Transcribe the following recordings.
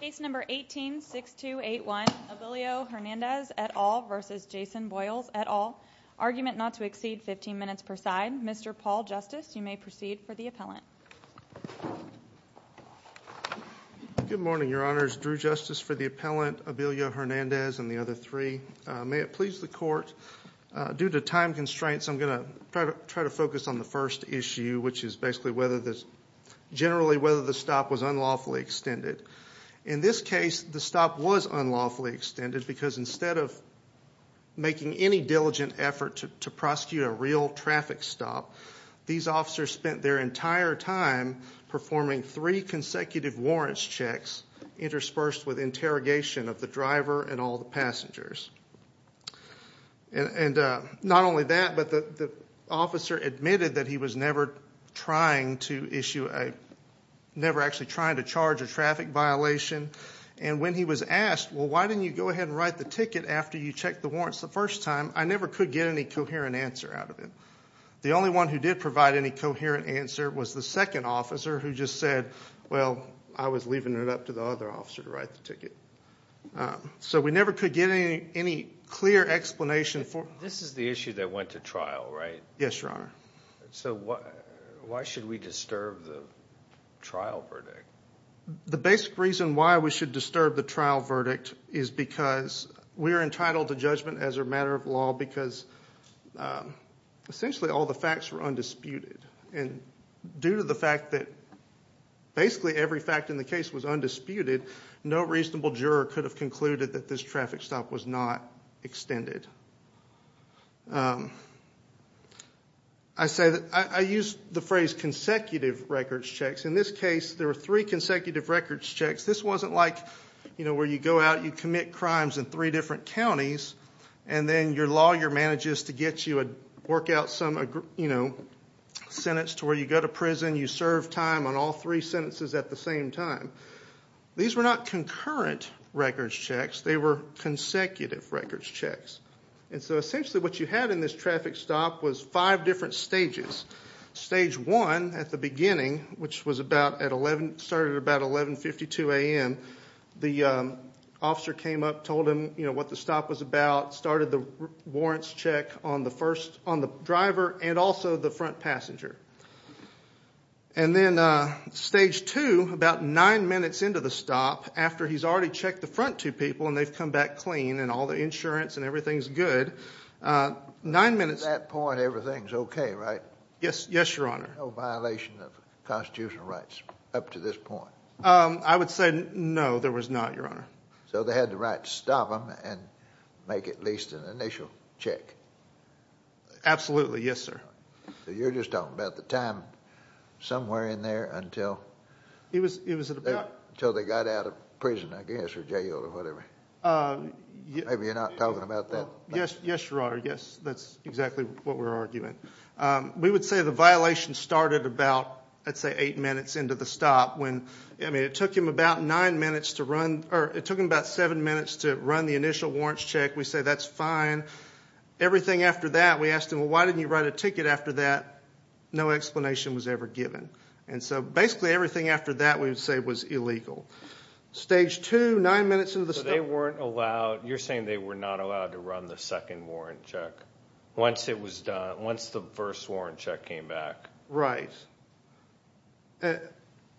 Case number 18-6281, Abilio Hernandez et al. versus Jason Boles et al. Argument not to exceed 15 minutes per side. Mr. Paul Justice, you may proceed for the appellant. Good morning, your honors. Drew Justice for the appellant, Abilio Hernandez and the other three. May it please the court, due to time constraints, I'm going to try to focus on the first issue, which is generally whether the stop was unlawfully extended. In this case, the stop was unlawfully extended because instead of making any diligent effort to prosecute a real traffic stop, these officers spent their entire time performing three consecutive warrants checks interspersed with interrogation of the driver and all the passengers. Not that he was never trying to issue a, never actually trying to charge a traffic violation. And when he was asked, well, why didn't you go ahead and write the ticket after you checked the warrants the first time, I never could get any coherent answer out of it. The only one who did provide any coherent answer was the second officer who just said, well, I was leaving it up to the other officer to write the ticket. So we never could get any clear explanation for. This is the issue that went to trial, right? Yes, Your Honor. So why should we disturb the trial verdict? The basic reason why we should disturb the trial verdict is because we are entitled to judgment as a matter of law because essentially all the facts were undisputed. And due to the fact that basically every fact in the case was undisputed, no reasonable juror could have concluded that this traffic stop was not extended. I said, I used the phrase consecutive records checks. In this case, there were three consecutive records checks. This wasn't like, you know, where you go out, you commit crimes in three different counties, and then your lawyer manages to get you a, work out some, you know, sentence to where you go to prison, you serve time on all three sentences at the same time. These were not concurrent records checks, they were consecutive records checks. And so essentially what you had in this traffic stop was five different stages. Stage one at the beginning, which was about at 11, started about 11.52 a.m., the officer came up, told him, you know, what the stop was about, started the warrants check on the first, on the driver, and also the front passenger. And then stage two, about nine minutes into the stop, after he's already checked the front two people and they've come back clean and all the insurance and everything's good, nine minutes- At that point, everything's okay, right? Yes, yes, your honor. No violation of constitutional rights up to this point? I would say no, there was not, your honor. So they had the right to stop him and make at least an initial check? Absolutely, yes, sir. So you're just talking about the time somewhere in there until- It was- Until they got out of prison, I guess, or jail or whatever. Maybe you're not talking about that. Yes, yes, your honor, yes, that's exactly what we're arguing. We would say the violation started about, I'd say eight minutes into the stop when, I mean, it took him about nine minutes to run, or it took him about seven minutes to run the initial warrants check. We say, that's fine. Everything after that, we asked him, well, why didn't you write a ticket after that? No explanation was ever given. And so basically everything after that we would say was illegal. Stage two, nine minutes into the stop- So they weren't allowed, you're saying they were not allowed to run the second warrant check once it was done, once the first warrant check came back? Right.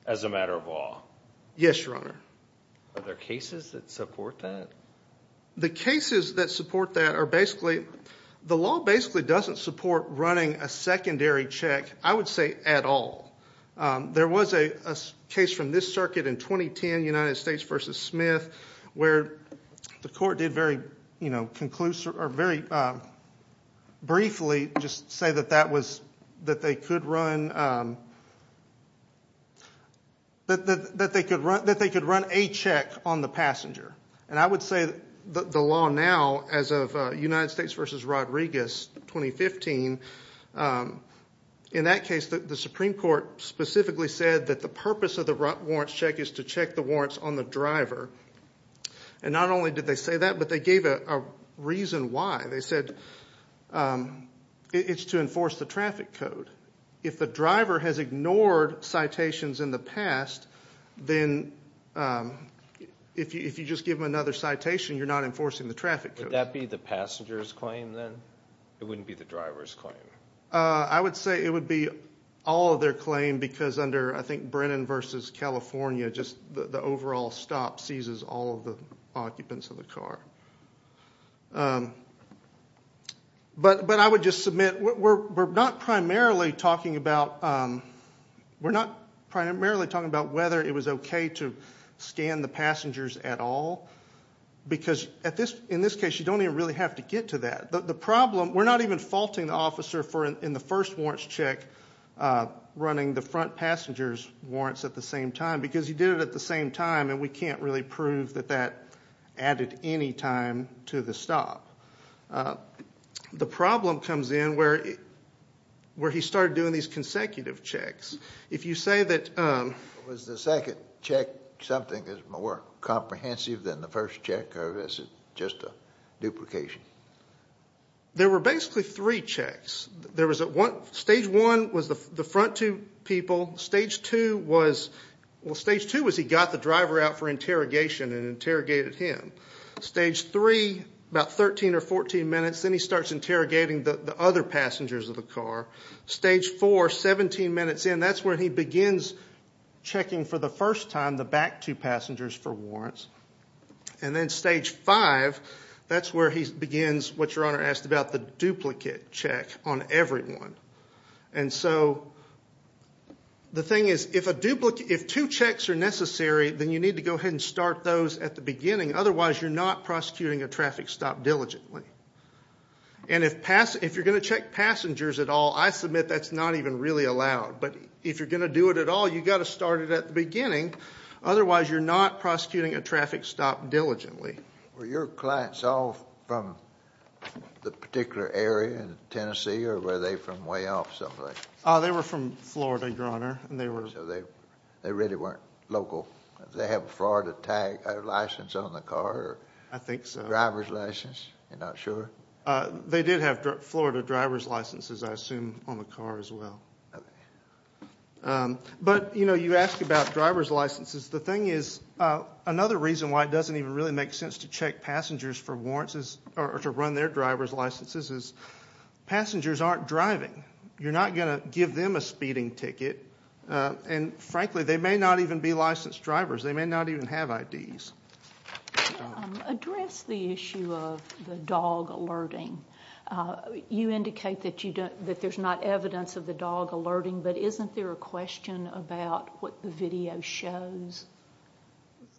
As a matter of law? Yes, your honor. Are there cases that support that? The cases that support that are basically, the law basically doesn't support running a secondary check, I would say, at all. There was a case from this circuit in 2010, United States v. Smith, where the court did very conclusive, or very briefly, just say that they could run a check on the passenger. And I would say the law now, as of United States v. Rodriguez, 2015, in that case, the Supreme Court specifically said that the purpose of the warrants check is to check the warrants on the driver. And not only did they say that, but they gave a reason why. They said it's to enforce the traffic code. If the driver has ignored citations in the past, then if you just give them another citation, you're not enforcing the traffic code. Would that be the passenger's claim, then? It wouldn't be the driver's claim. I would say it would be all of their claim, because under, I think, Brennan v. California, the overall stop seizes all of the occupants of the car. But I would just submit, we're not primarily talking about whether it was okay to scan the passengers at all, because in this case, you don't even really have to get to that. The problem, we're not even faulting the officer in the first warrants check running the front passenger's warrants at the same time, because he did it at the same time, and we can't really prove that that happened at any time to the stop. The problem comes in where he started doing these consecutive checks. If you say that... Was the second check something that's more comprehensive than the first check, or is it just a duplication? There were basically three checks. Stage one was the front two people. Stage two was he got the driver out for interrogation and interrogated him. Stage three, about 13 or 14 minutes, then he starts interrogating the other passengers of the car. Stage four, 17 minutes in, that's where he begins checking for the first time the back two passengers for warrants. And then stage five, that's where he begins what your Honor asked about, the duplicate check on everyone. The thing is, if two checks are necessary, then you need to go ahead and start those at the beginning. Otherwise, you're not prosecuting a traffic stop diligently. And if you're going to check passengers at all, I submit that's not even really allowed. But if you're going to do it at all, you've got to start it at the beginning. Otherwise, you're not prosecuting a traffic stop diligently. Were your clients all from the particular area in Tennessee, or were they from way off someplace? They were from Florida, Your Honor. They really weren't local. Did they have a Florida tag license on the car? I think so. A driver's license? You're not sure? They did have Florida driver's licenses, I assume, on the car as well. You ask about driver's licenses. The thing is, another reason why it doesn't even really make sense to check passengers for warrants or to run their driver's licenses is passengers aren't driving. You're not going to give them a speeding ticket. And frankly, they may not even be licensed drivers. They may not even have IDs. Address the issue of the dog alerting. You indicate that there's not evidence of the dog alerting, but isn't there a question about what the video shows?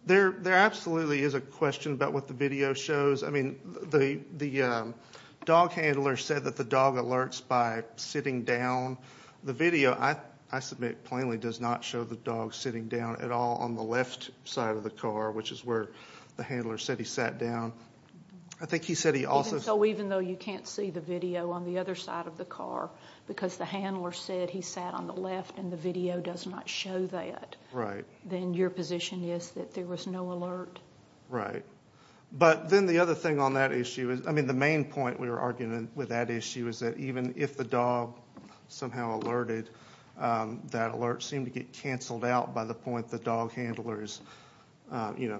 There absolutely is a question about what the video shows. The dog handler said that the dog alerts by sitting down. The video, I submit plainly, does not show the dog sitting down at all on the left side of the car, which is where the handler said he sat down. Even though you can't see the video on the other side of the car because the handler said he sat on the left and the video does not show that, then your position is that there was no alert. But then the other thing on that issue, the main point we were arguing with that issue, is that even if the dog somehow alerted, that alert seemed to get canceled out by the point the dog handler is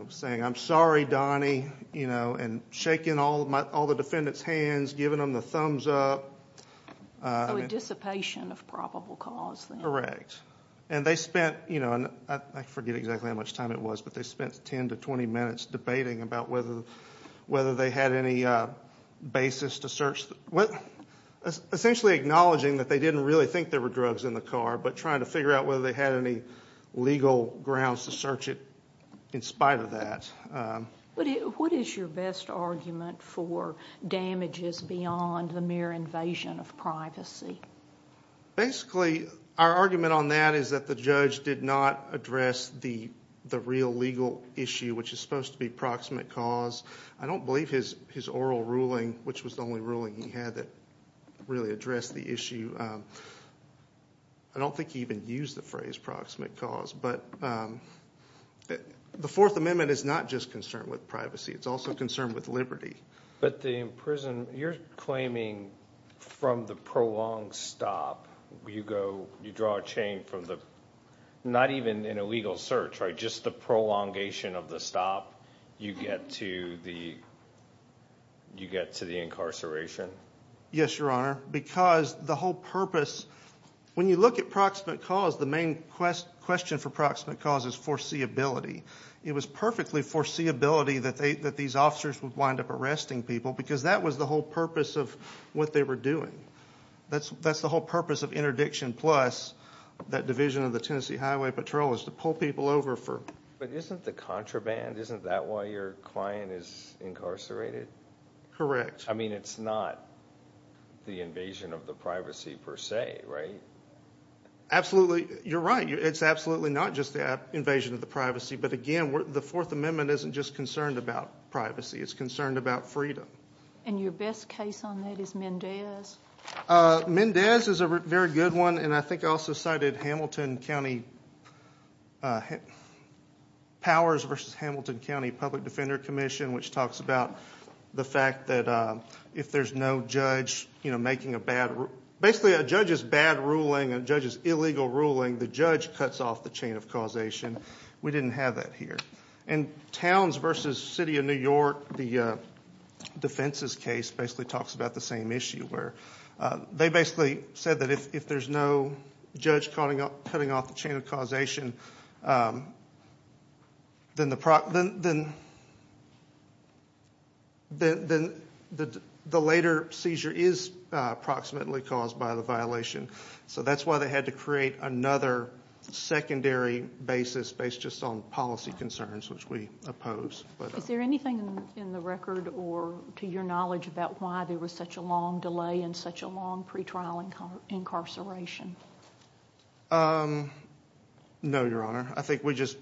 saying, I'm sorry, Donnie, and shaking all the defendant's hands, giving them the thumbs up. So a dissipation of probable cause. Correct. And they spent, I forget exactly how much time it was, but they spent 10 to 20 minutes debating about whether they had any basis to search. Essentially acknowledging that they didn't really think there were drugs in the car, but trying to figure out whether they had any legal grounds to search it in spite of that. What is your best argument for damages beyond the mere invasion of privacy? Basically, our argument on that is that the judge did not address the real legal issue, which is supposed to be proximate cause. I don't believe his oral ruling, which was the only ruling he had that really addressed the issue, I don't think he even used the phrase proximate cause. The Fourth Amendment is not just concerned with privacy, it's also concerned with liberty. But the imprisonment, you're claiming from the prolonged stop, you draw a chain from the not even an illegal search, just the prolongation of the you get to the incarceration? Yes, Your Honor, because the whole purpose, when you look at proximate cause, the main question for proximate cause is foreseeability. It was perfectly foreseeability that these officers would wind up arresting people, because that was the whole purpose of what they were doing. That's the whole purpose of interdiction plus that division of the Tennessee Highway Patrol, is to pull people over for... But isn't the contraband, isn't that why your client is incarcerated? Correct. I mean, it's not the invasion of the privacy per se, right? Absolutely. You're right, it's absolutely not just the invasion of the privacy, but again, the Fourth Amendment isn't just concerned about privacy, it's concerned about freedom. And your best case on that is Mendez? Mendez is a very good one, and I think I also cited Hamilton County Powers v. Hamilton County Public Defender Commission, which talks about the fact that if there's no judge making a bad, basically a judge's bad ruling, a judge's illegal ruling, the judge cuts off the chain of causation. We didn't have that here. And Towns v. City of New York, the defenses case basically talks about the same issue, where they basically said that if there's no chain of causation, then the later seizure is approximately caused by the violation. So that's why they had to create another secondary basis based just on policy concerns, which we oppose. Is there anything in the record or to your knowledge about why there was such a long delay and such a long pretrial incarceration? No, Your Honor. I think we just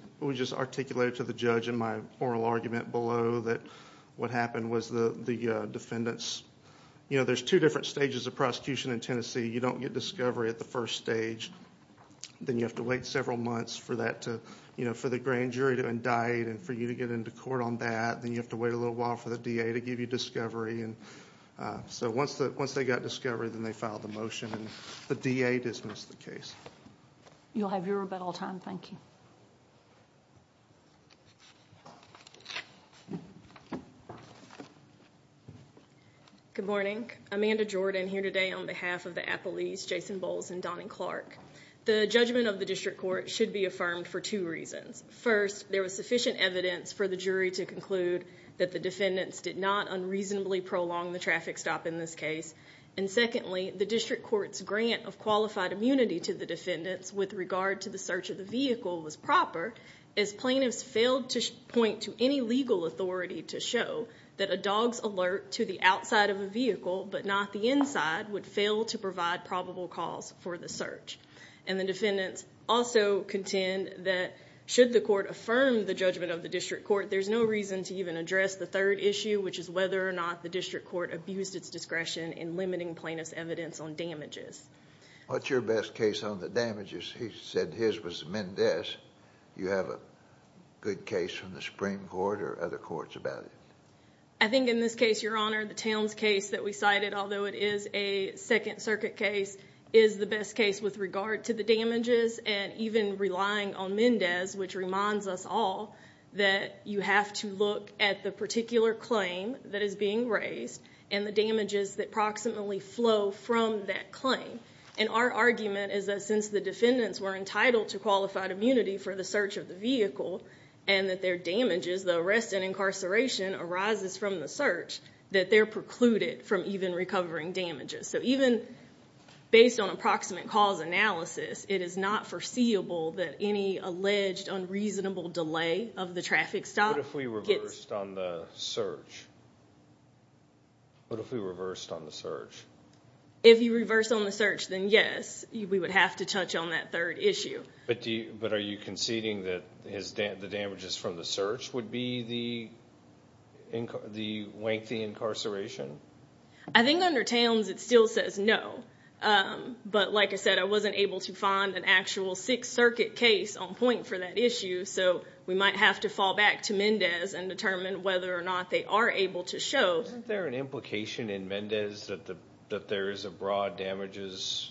articulated to the judge in my oral argument below that what happened was the defendants, you know, there's two different stages of prosecution in Tennessee. You don't get discovery at the first stage. Then you have to wait several months for the grand jury to indict and for you to get into court on that. Then you have to wait a little while for the DA to give you discovery. So once they got discovery, then they dismissed the case. You'll have your rebuttal time. Thank you. Good morning. Amanda Jordan here today on behalf of the Apple East, Jason Bowles, and Donnie Clark. The judgment of the district court should be affirmed for two reasons. First, there was sufficient evidence for the jury to conclude that the defendants did not unreasonably prolong the traffic stop in this case. And secondly, the district court's grant of qualified immunity to the defendants with regard to the search of the vehicle was proper as plaintiffs failed to point to any legal authority to show that a dog's alert to the outside of a vehicle but not the inside would fail to provide probable cause for the search. And the defendants also contend that should the court affirm the judgment of the district court, there's no reason to even address the third issue, which is whether or not the district court abused its discretion in limiting plaintiffs' evidence on damages. What's your best case on the damages? He said his was Mendez. You have a good case from the Supreme Court or other courts about it? I think in this case, Your Honor, the Towns case that we cited, although it is a Second Circuit case, is the best case with regard to the damages and even relying on Mendez, which reminds us all that you have to look at the particular claim that is being raised and the damages that proximately flow from that claim. And our argument is that since the defendants were entitled to qualified immunity for the search of the vehicle and that their damages, the arrest and incarceration, arises from the search, that they're precluded from even recovering damages. So even based on approximate cause analysis, it is not foreseeable that any alleged unreasonable delay of the traffic stop gets... What if we reversed on the search? If you reverse on the search, then yes, we would have to touch on that third issue. But are you conceding that the damages from the search would be the lengthy incarceration? I think under Towns it still says no. But like I said, I wasn't able to find an actual Sixth Circuit case on point for that issue, so we might have to fall back to Mendez and to show... Isn't there an implication in Mendez that there is a broad damages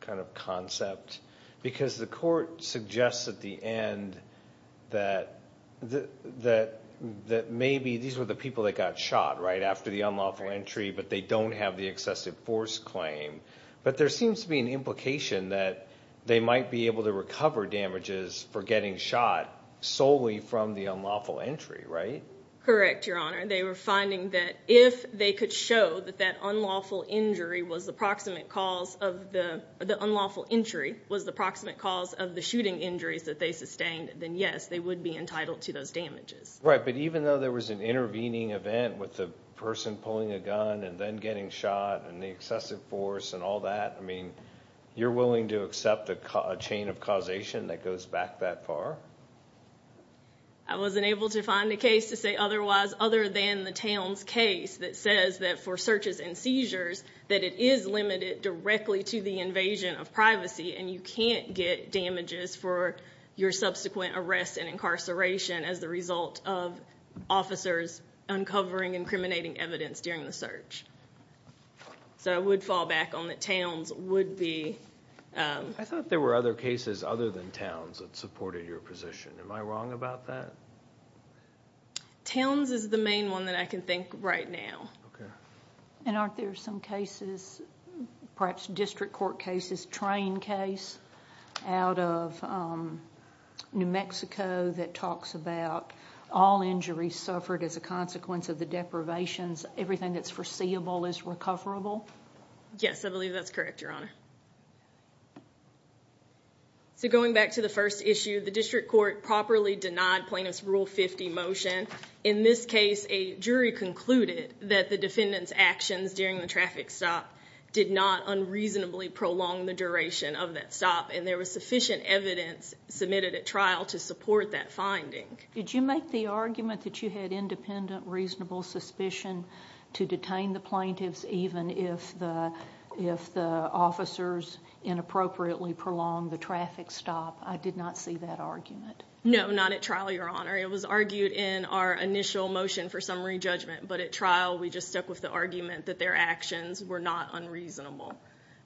kind of concept? Because the court suggests at the end that maybe these were the people that got shot, right, after the unlawful entry, but they don't have the excessive force claim. But there seems to be an implication that they might be able to recover damages for getting shot solely from the unlawful entry, right? Correct, Your Honor. They were finding that if they could show that that unlawful injury was the proximate cause of the... The unlawful entry was the proximate cause of the shooting injuries that they sustained, then yes, they would be entitled to those damages. Right, but even though there was an intervening event with the person pulling a gun and then getting shot and the excessive force and all that, I mean, you're willing to accept a chain of causation that goes back that far? I wasn't able to find a case to say otherwise other than the Towns case that says that for searches and seizures that it is limited directly to the invasion of privacy and you can't get damages for your subsequent arrests and incarceration as the result of officers uncovering incriminating evidence during the search. So I would fall back on that Towns would be... I thought there were other cases other than Towns that supported your position. Am I wrong about that? Towns is the main one that I can think of right now. Okay. And aren't there some cases, perhaps district court cases, train case out of New Mexico that talks about all injuries suffered as a consequence of the deprivations, everything that's foreseeable is recoverable? Yes, I believe that's correct, Your Honor. So going back to the first issue, the district court properly denied plaintiff's Rule 50 motion. In this case, a jury concluded that the defendant's actions during the traffic stop did not unreasonably prolong the duration of that stop and there was sufficient evidence submitted at trial to support that finding. Did you make the argument that you had independent reasonable suspicion to detain the plaintiffs even if the officers inappropriately prolonged the traffic stop? I did not see that argument. No, not at trial, Your Honor. It was argued in our initial motion for summary judgment, but at trial we just stuck with the argument that their actions were not unreasonable.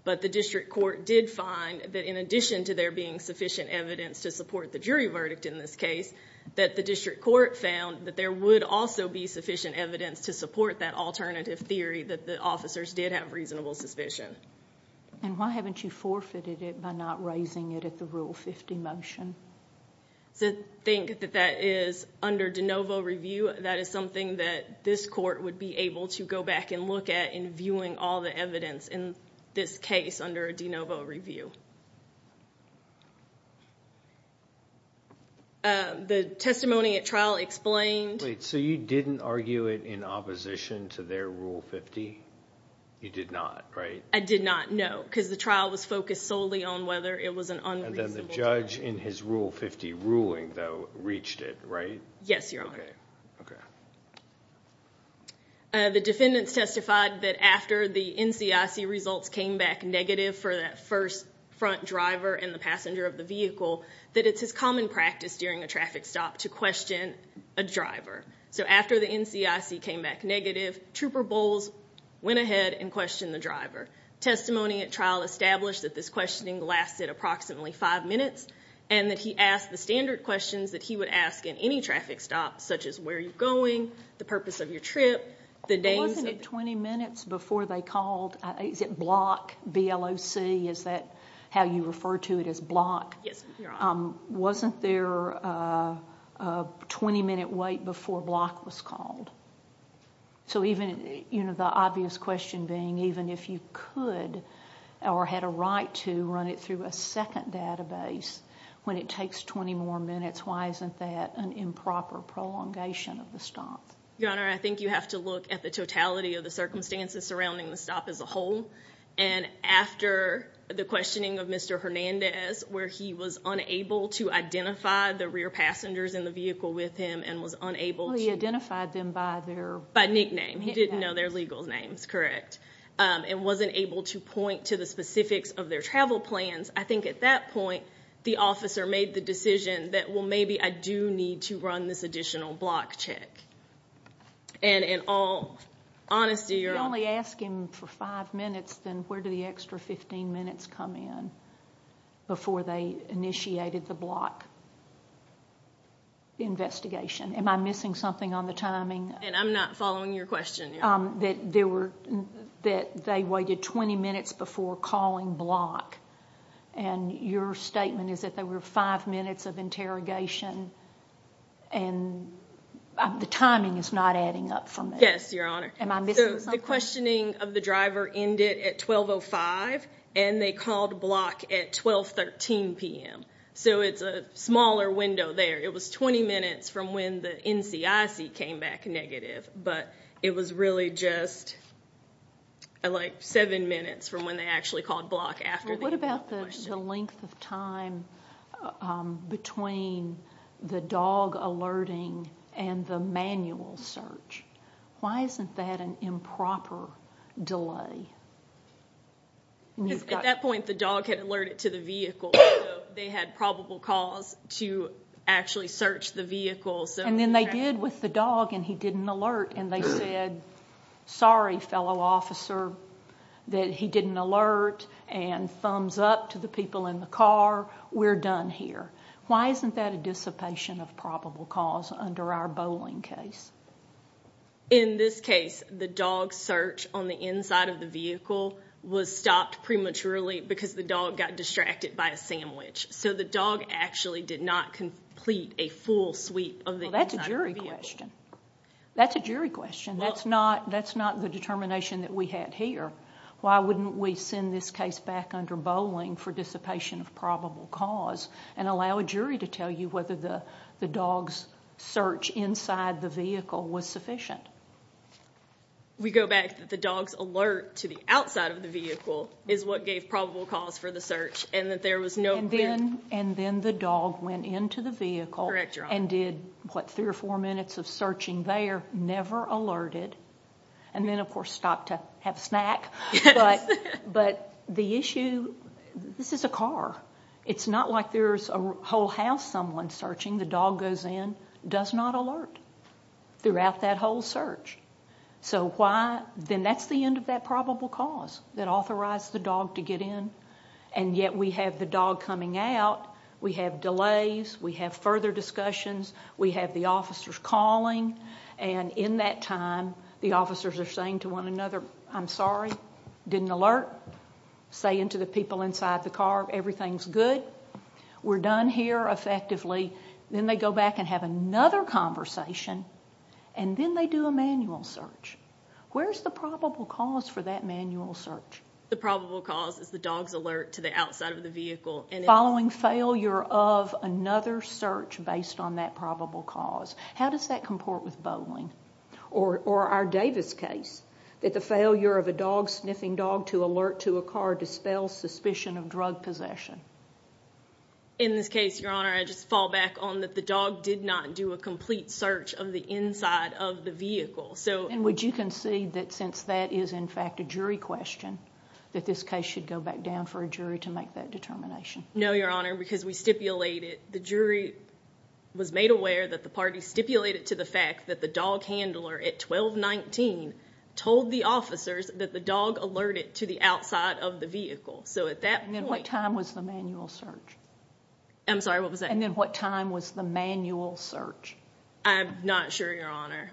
But the district court did find that in addition to there being sufficient evidence to support the jury verdict in this case, that the district court found that there would also be sufficient evidence to support that alternative theory that the officers did have reasonable suspicion. And why haven't you forfeited it by not raising it at the Rule 50 motion? I think that that is, under de novo review, that is something that this court would be able to go back and look at in viewing all the evidence in this case under a de novo review. The testimony at trial explained... Wait, so you didn't argue it in opposition to their Rule 50? You did not, right? I did not, no, because the trial was focused solely on whether it was an unreasonable... And then the judge in his Rule 50 ruling, though, reached it, right? Yes, Your Honor. The defendants testified that after the NCIC results came back negative for that first front driver and the passenger of the vehicle, that it's his common practice during a traffic stop to question a driver. So after the NCIC came back negative, Trooper Bowles went ahead and questioned the driver. Testimony at trial established that this questioning lasted approximately five minutes and that he asked the standard questions that he would ask in any traffic stop, such as where you're going, the purpose of your trip, the days... Wasn't it 20 minutes before they called, is it Block, B-L-O-C, is that how you refer to it as Block? Yes, Your Honor. Wasn't there a 20-minute wait before Block was called? So even, you know, the obvious question being, even if you could or had a right to run it through a second database, when it takes 20 more minutes, why isn't that an improper prolongation of the stop? Your Honor, I think you have to look at the totality of the circumstances surrounding the stop as a whole, and after the questioning of Mr. Hernandez, where he was with the rear passengers in the vehicle with him and was unable to... Well, he identified them by their... By nickname. He didn't know their legal names, correct. And wasn't able to point to the specifics of their travel plans. I think at that point, the officer made the decision that, well, maybe I do need to run this additional Block check. And in all honesty, Your Honor... If you only ask him for five minutes, then where do the extra 15 minutes come in before they do the investigation? Am I missing something on the timing? And I'm not following your question, Your Honor. That they waited 20 minutes before calling Block, and your statement is that there were five minutes of interrogation and the timing is not adding up for me. Yes, Your Honor. Am I missing something? So the questioning of the driver ended at 12.05, and they called Block at 12.13 p.m. So it's a smaller window there. It was 20 minutes from when the NCIC came back negative, but it was really just like seven minutes from when they actually called Block after the email question. Well, what about the length of time between the dog alerting and the manual search? Why isn't that an improper delay? At that point, the dog had probable cause to actually search the vehicle. And then they did with the dog, and he didn't alert, and they said, sorry, fellow officer, that he didn't alert and thumbs up to the people in the car. We're done here. Why isn't that a dissipation of probable cause under our bowling case? In this case, the dog's search on the inside of the vehicle was stopped prematurely because the dog got distracted by a sandwich. So the dog actually did not complete a full sweep of the inside of the vehicle. Well, that's a jury question. That's a jury question. That's not the determination that we had here. Why wouldn't we send this case back under bowling for dissipation of probable cause and allow a jury to tell you whether the dog's search inside the vehicle was sufficient? We go back that the dog's alert to the outside of the vehicle is what gave probable cause for the search. And then the dog went into the vehicle and did, what, three or four minutes of searching there, never alerted, and then of course stopped to have a snack. This is a car. It's not like there's a whole house someone searching. The dog goes in, does not alert throughout that whole search. Then that's the end of that probable cause that authorized the dog to get in, and yet we have the dog coming out, we have delays, we have further discussions, we have the officers calling, and in that time, the officers are saying to one another, I'm sorry, didn't alert, saying to the people inside the car, everything's good, we're done here effectively. Then they go back and have another conversation, and then they do a manual search. Where's the probable cause for that manual search? The probable cause is the dog's alert to the outside of the vehicle. Following failure of another search based on that probable cause. How does that comport with bowling, or our Davis case, that the failure of a dog, sniffing dog, to alert to a car dispels suspicion of drug possession? In this case, Your Honor, I just fall back on that the dog did not do a complete search of the inside of the vehicle. And would you concede that since that is in fact a jury question, that this case should go back down for a jury to make that determination? No, Your Honor, because we stipulated, the jury was made aware that the party stipulated to the fact that the dog handler at 1219 told the officers that the dog alerted to the outside of the vehicle. So at that point... And then what time was the manual search? I'm sorry, what was that? And then what time was the manual search? I'm not sure, Your Honor.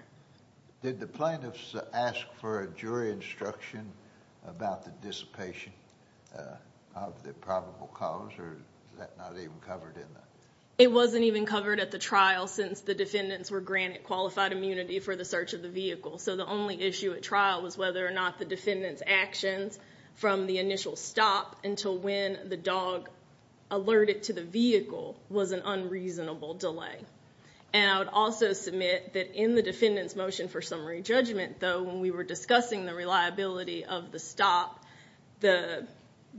Did the plaintiffs ask for a jury instruction about the dissipation of the probable cause, or is that not even covered in the... It wasn't even covered at the trial since the defendants were granted qualified immunity for the search of the vehicle. So the only issue at trial was whether or not the defendant's actions from the initial stop until when the dog alerted to the vehicle was an unreasonable delay. And I would also submit that in the defendant's motion for summary judgment, though, when we were discussing the reliability of the stop, the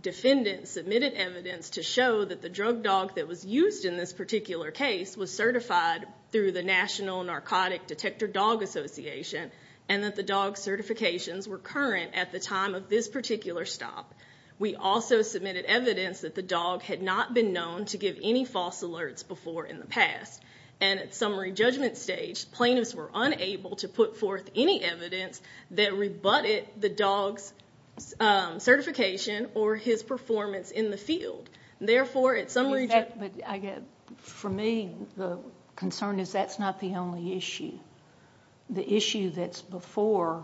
defendant submitted evidence to show that the drug dog that was used in this particular case was certified through the National Narcotic Detector Dog Association, and that the dog's certifications were current at the time of this particular stop. We also submitted evidence that the dog had not been known to give any false alerts before in the past. And at summary judgment stage, plaintiffs were unable to put forth any evidence that rebutted the dog's certification or his performance in the field. Therefore, at summary judgment... For me, the concern is that's not the only issue. The issue that's before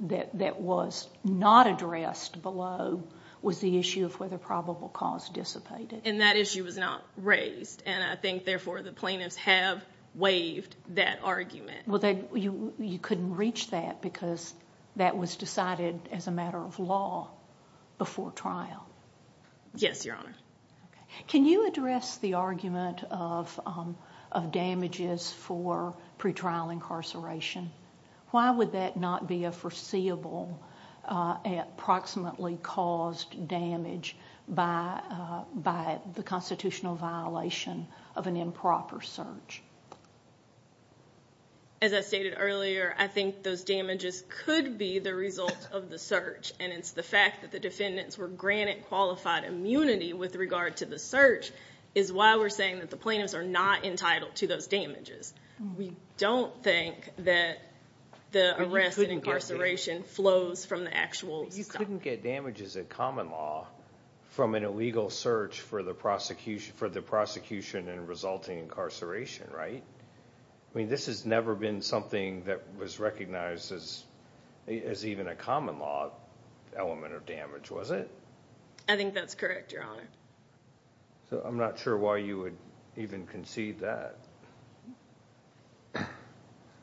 that was not addressed below was the issue of whether probable cause dissipated. And that issue was not raised, and I think, therefore, the plaintiffs have waived that argument. You couldn't reach that because that was decided as a matter of law before trial. Yes, Your Honor. Can you address the argument of damages for pretrial incarceration? Why would that not be a foreseeable approximately caused damage by the constitutional violation of an improper search? As I stated earlier, I think those damages could be the result of the search, and it's the fact that the defendants were granted qualified immunity with regard to the search is why we're saying that the plaintiffs are not entitled to those damages. We don't think that the arrest and incarceration flows from the actual stuff. You couldn't get damages in common law from an illegal search for the prosecution and resulting incarceration, right? I mean, this has never been something that was recognized as even a common law element of damage, was it? I think that's correct, Your Honor. I'm not sure why you would even concede that.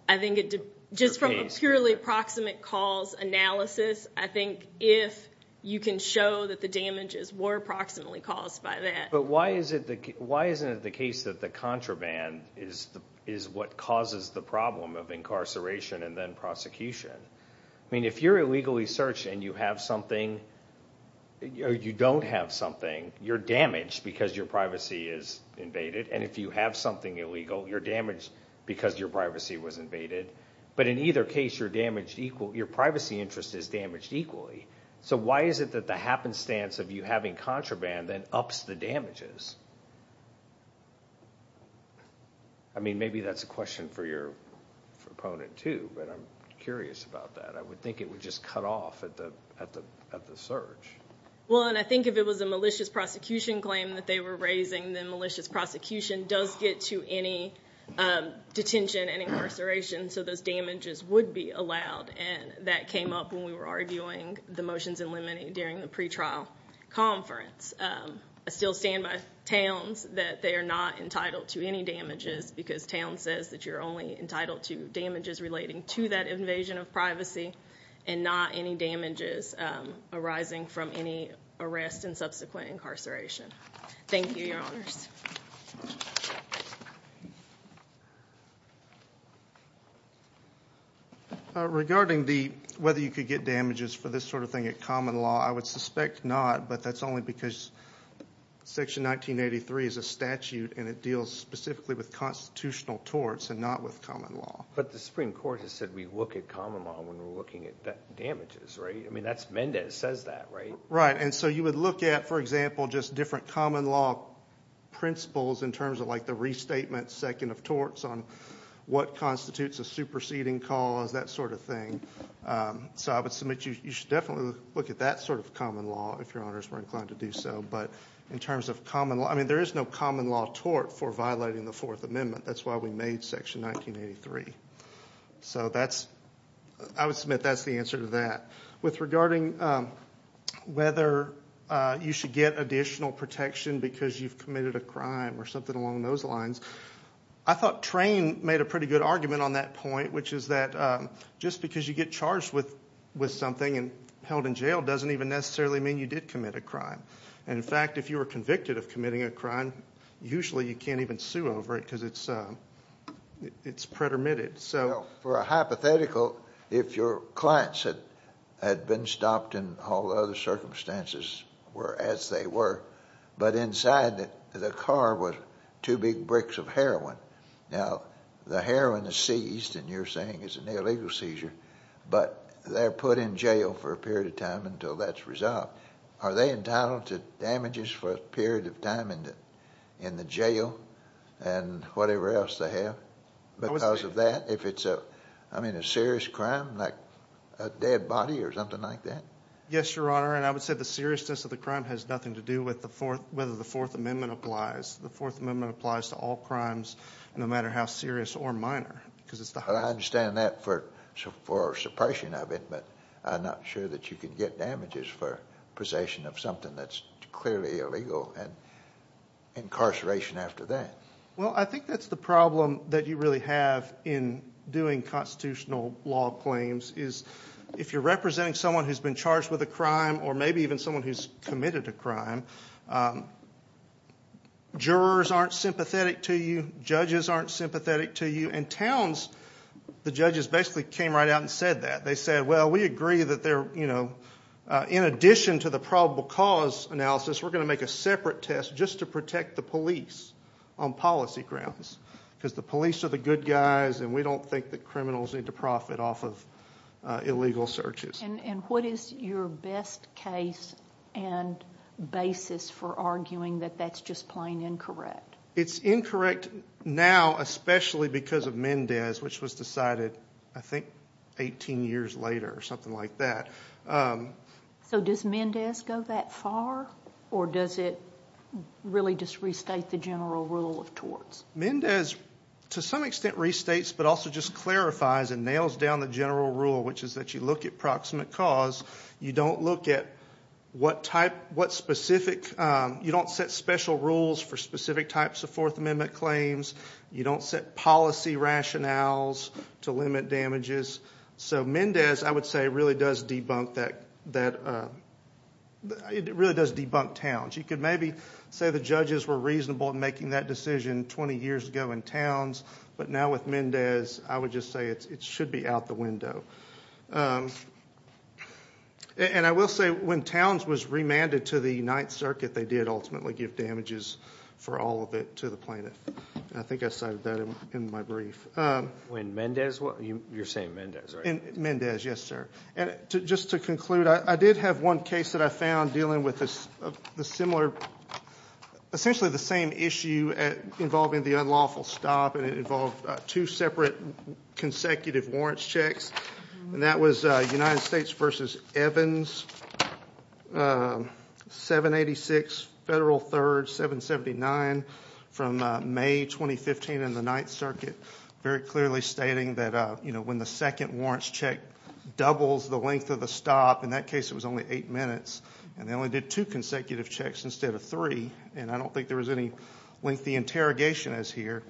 I think just from a purely proximate cause analysis, I think if you can show that the damages were proximately caused by that. Why isn't it the case that the contraband is what causes the problem of incarceration and then prosecution? I mean, if you're illegally searched and you don't have something, you're damaged because your privacy is invaded, and if you have something illegal, you're damaged because your privacy was invaded. But in either case, your privacy interest is damaged equally. So why is it that the happenstance of you having contraband then ups the damages? I mean, maybe that's a question for your opponent too, but I'm curious about that. I would think it would just cut off at the search. Well, and I think if it was a malicious prosecution claim that they were raising, then malicious prosecution does get to any detention and incarceration, so those damages would be allowed, and that came up when we were arguing the motions in limine during the pre-trial conference. I still stand by Towns that they are not entitled to any damages because Towns says that you're only entitled to damages relating to that invasion of privacy and not any damages arising from any arrest and subsequent incarceration. Thank you, Your Honors. Regarding the whether you could get damages for this sort of thing at common law, I would suspect not, but that's only because Section 1983 is a statute and it deals specifically with constitutional torts and not with common law. But the Supreme Court has said we look at common law when we're looking at damages, right? I mean, that's Mendez says that, right? Right, and so you would look at, for example, just different common law principles in terms of like the restatement second of torts on what constitutes a superseding cause, that sort of thing. So I would submit you should definitely look at that sort of common law if Your Honors were inclined to do so, but in terms of common law, I mean, there is no common law tort for violating the Fourth Amendment. That's why we made Section 1983. So that's, I would submit that's the answer to that. With regarding whether you should get additional protection because you've committed a crime or something along those lines, I thought Trane made a pretty good argument on that point, which is that just because you get charged with something and held in jail doesn't even necessarily mean you did commit a crime. And in fact, if you were convicted of committing a crime, usually you can't even sue over it because it's pretermitted. For a hypothetical, if your clients had been stopped in all the other circumstances were as they were, but inside the car was two big bricks of heroin. Now, the heroin is seized, and you're saying it's an illegal seizure, but they're put in jail for a period of time until that's resolved. Are they entitled to damages for a period of time in the jail and whatever else they have because of that? If it's a serious crime like a dead body or something like that? Yes, Your Honor, and I would say the seriousness of the crime has nothing to do with whether the Fourth Amendment applies. The Fourth Amendment applies to all crimes, no matter how serious or minor. I understand that for suppression of it, but I'm not sure that you can get damages for possession of something that's clearly illegal and incarceration after that. Well, I think that's the problem that you really have in doing constitutional law claims is if you're representing someone who's been committed a crime, jurors aren't sympathetic to you, judges aren't sympathetic to you, and towns, the judges basically came right out and said that. They said, well, we agree that in addition to the probable cause analysis, we're going to make a separate test just to protect the police on policy grounds because the police are the good guys, and we don't think that criminals need to profit off of illegal searches. And what is your best case and basis for arguing that that's just plain incorrect? It's incorrect now, especially because of Mendez, which was decided, I think, 18 years later or something like that. So does Mendez go that far, or does it really just restate the general rule of torts? Mendez, to some extent, restates but also just clarifies and nails down the general rule, which is that you look at proximate cause, you don't look at what specific, you don't set special rules for specific types of Fourth Amendment claims, you don't set policy rationales to limit damages. So Mendez, I would say, really does debunk that, it really does debunk towns. You could maybe say the judges were reasonable in making that decision 20 years ago in towns, but now with Mendez, I would just say it should be out the window. And I will say when towns was remanded to the Ninth Circuit, they did ultimately give damages for all of it to the plaintiff. I think I cited that in my brief. When Mendez, you're saying Mendez, right? Mendez, yes sir. And just to conclude, I did have one case that I found dealing with the similar, essentially the same issue involving the unlawful stop, and it involved two separate consecutive warrants checks, and that was United States v. Evans, 786 Federal 3rd, 779 from May 2015 in the Ninth Circuit, very clearly stating that when the second warrants check doubles the length of the stop, in that case it was only eight minutes, and they only did two consecutive checks instead of three. And I don't think there was any lengthy interrogation as here.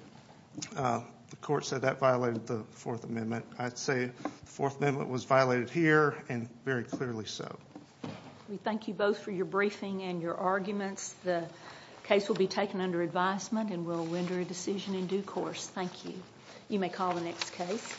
The court said that violated the Fourth Amendment. I'd say the Fourth Amendment was violated here, and very clearly so. We thank you both for your briefing and your arguments. The case will be taken under advisement, and we'll render a decision in due course. Thank you. You may call the next case.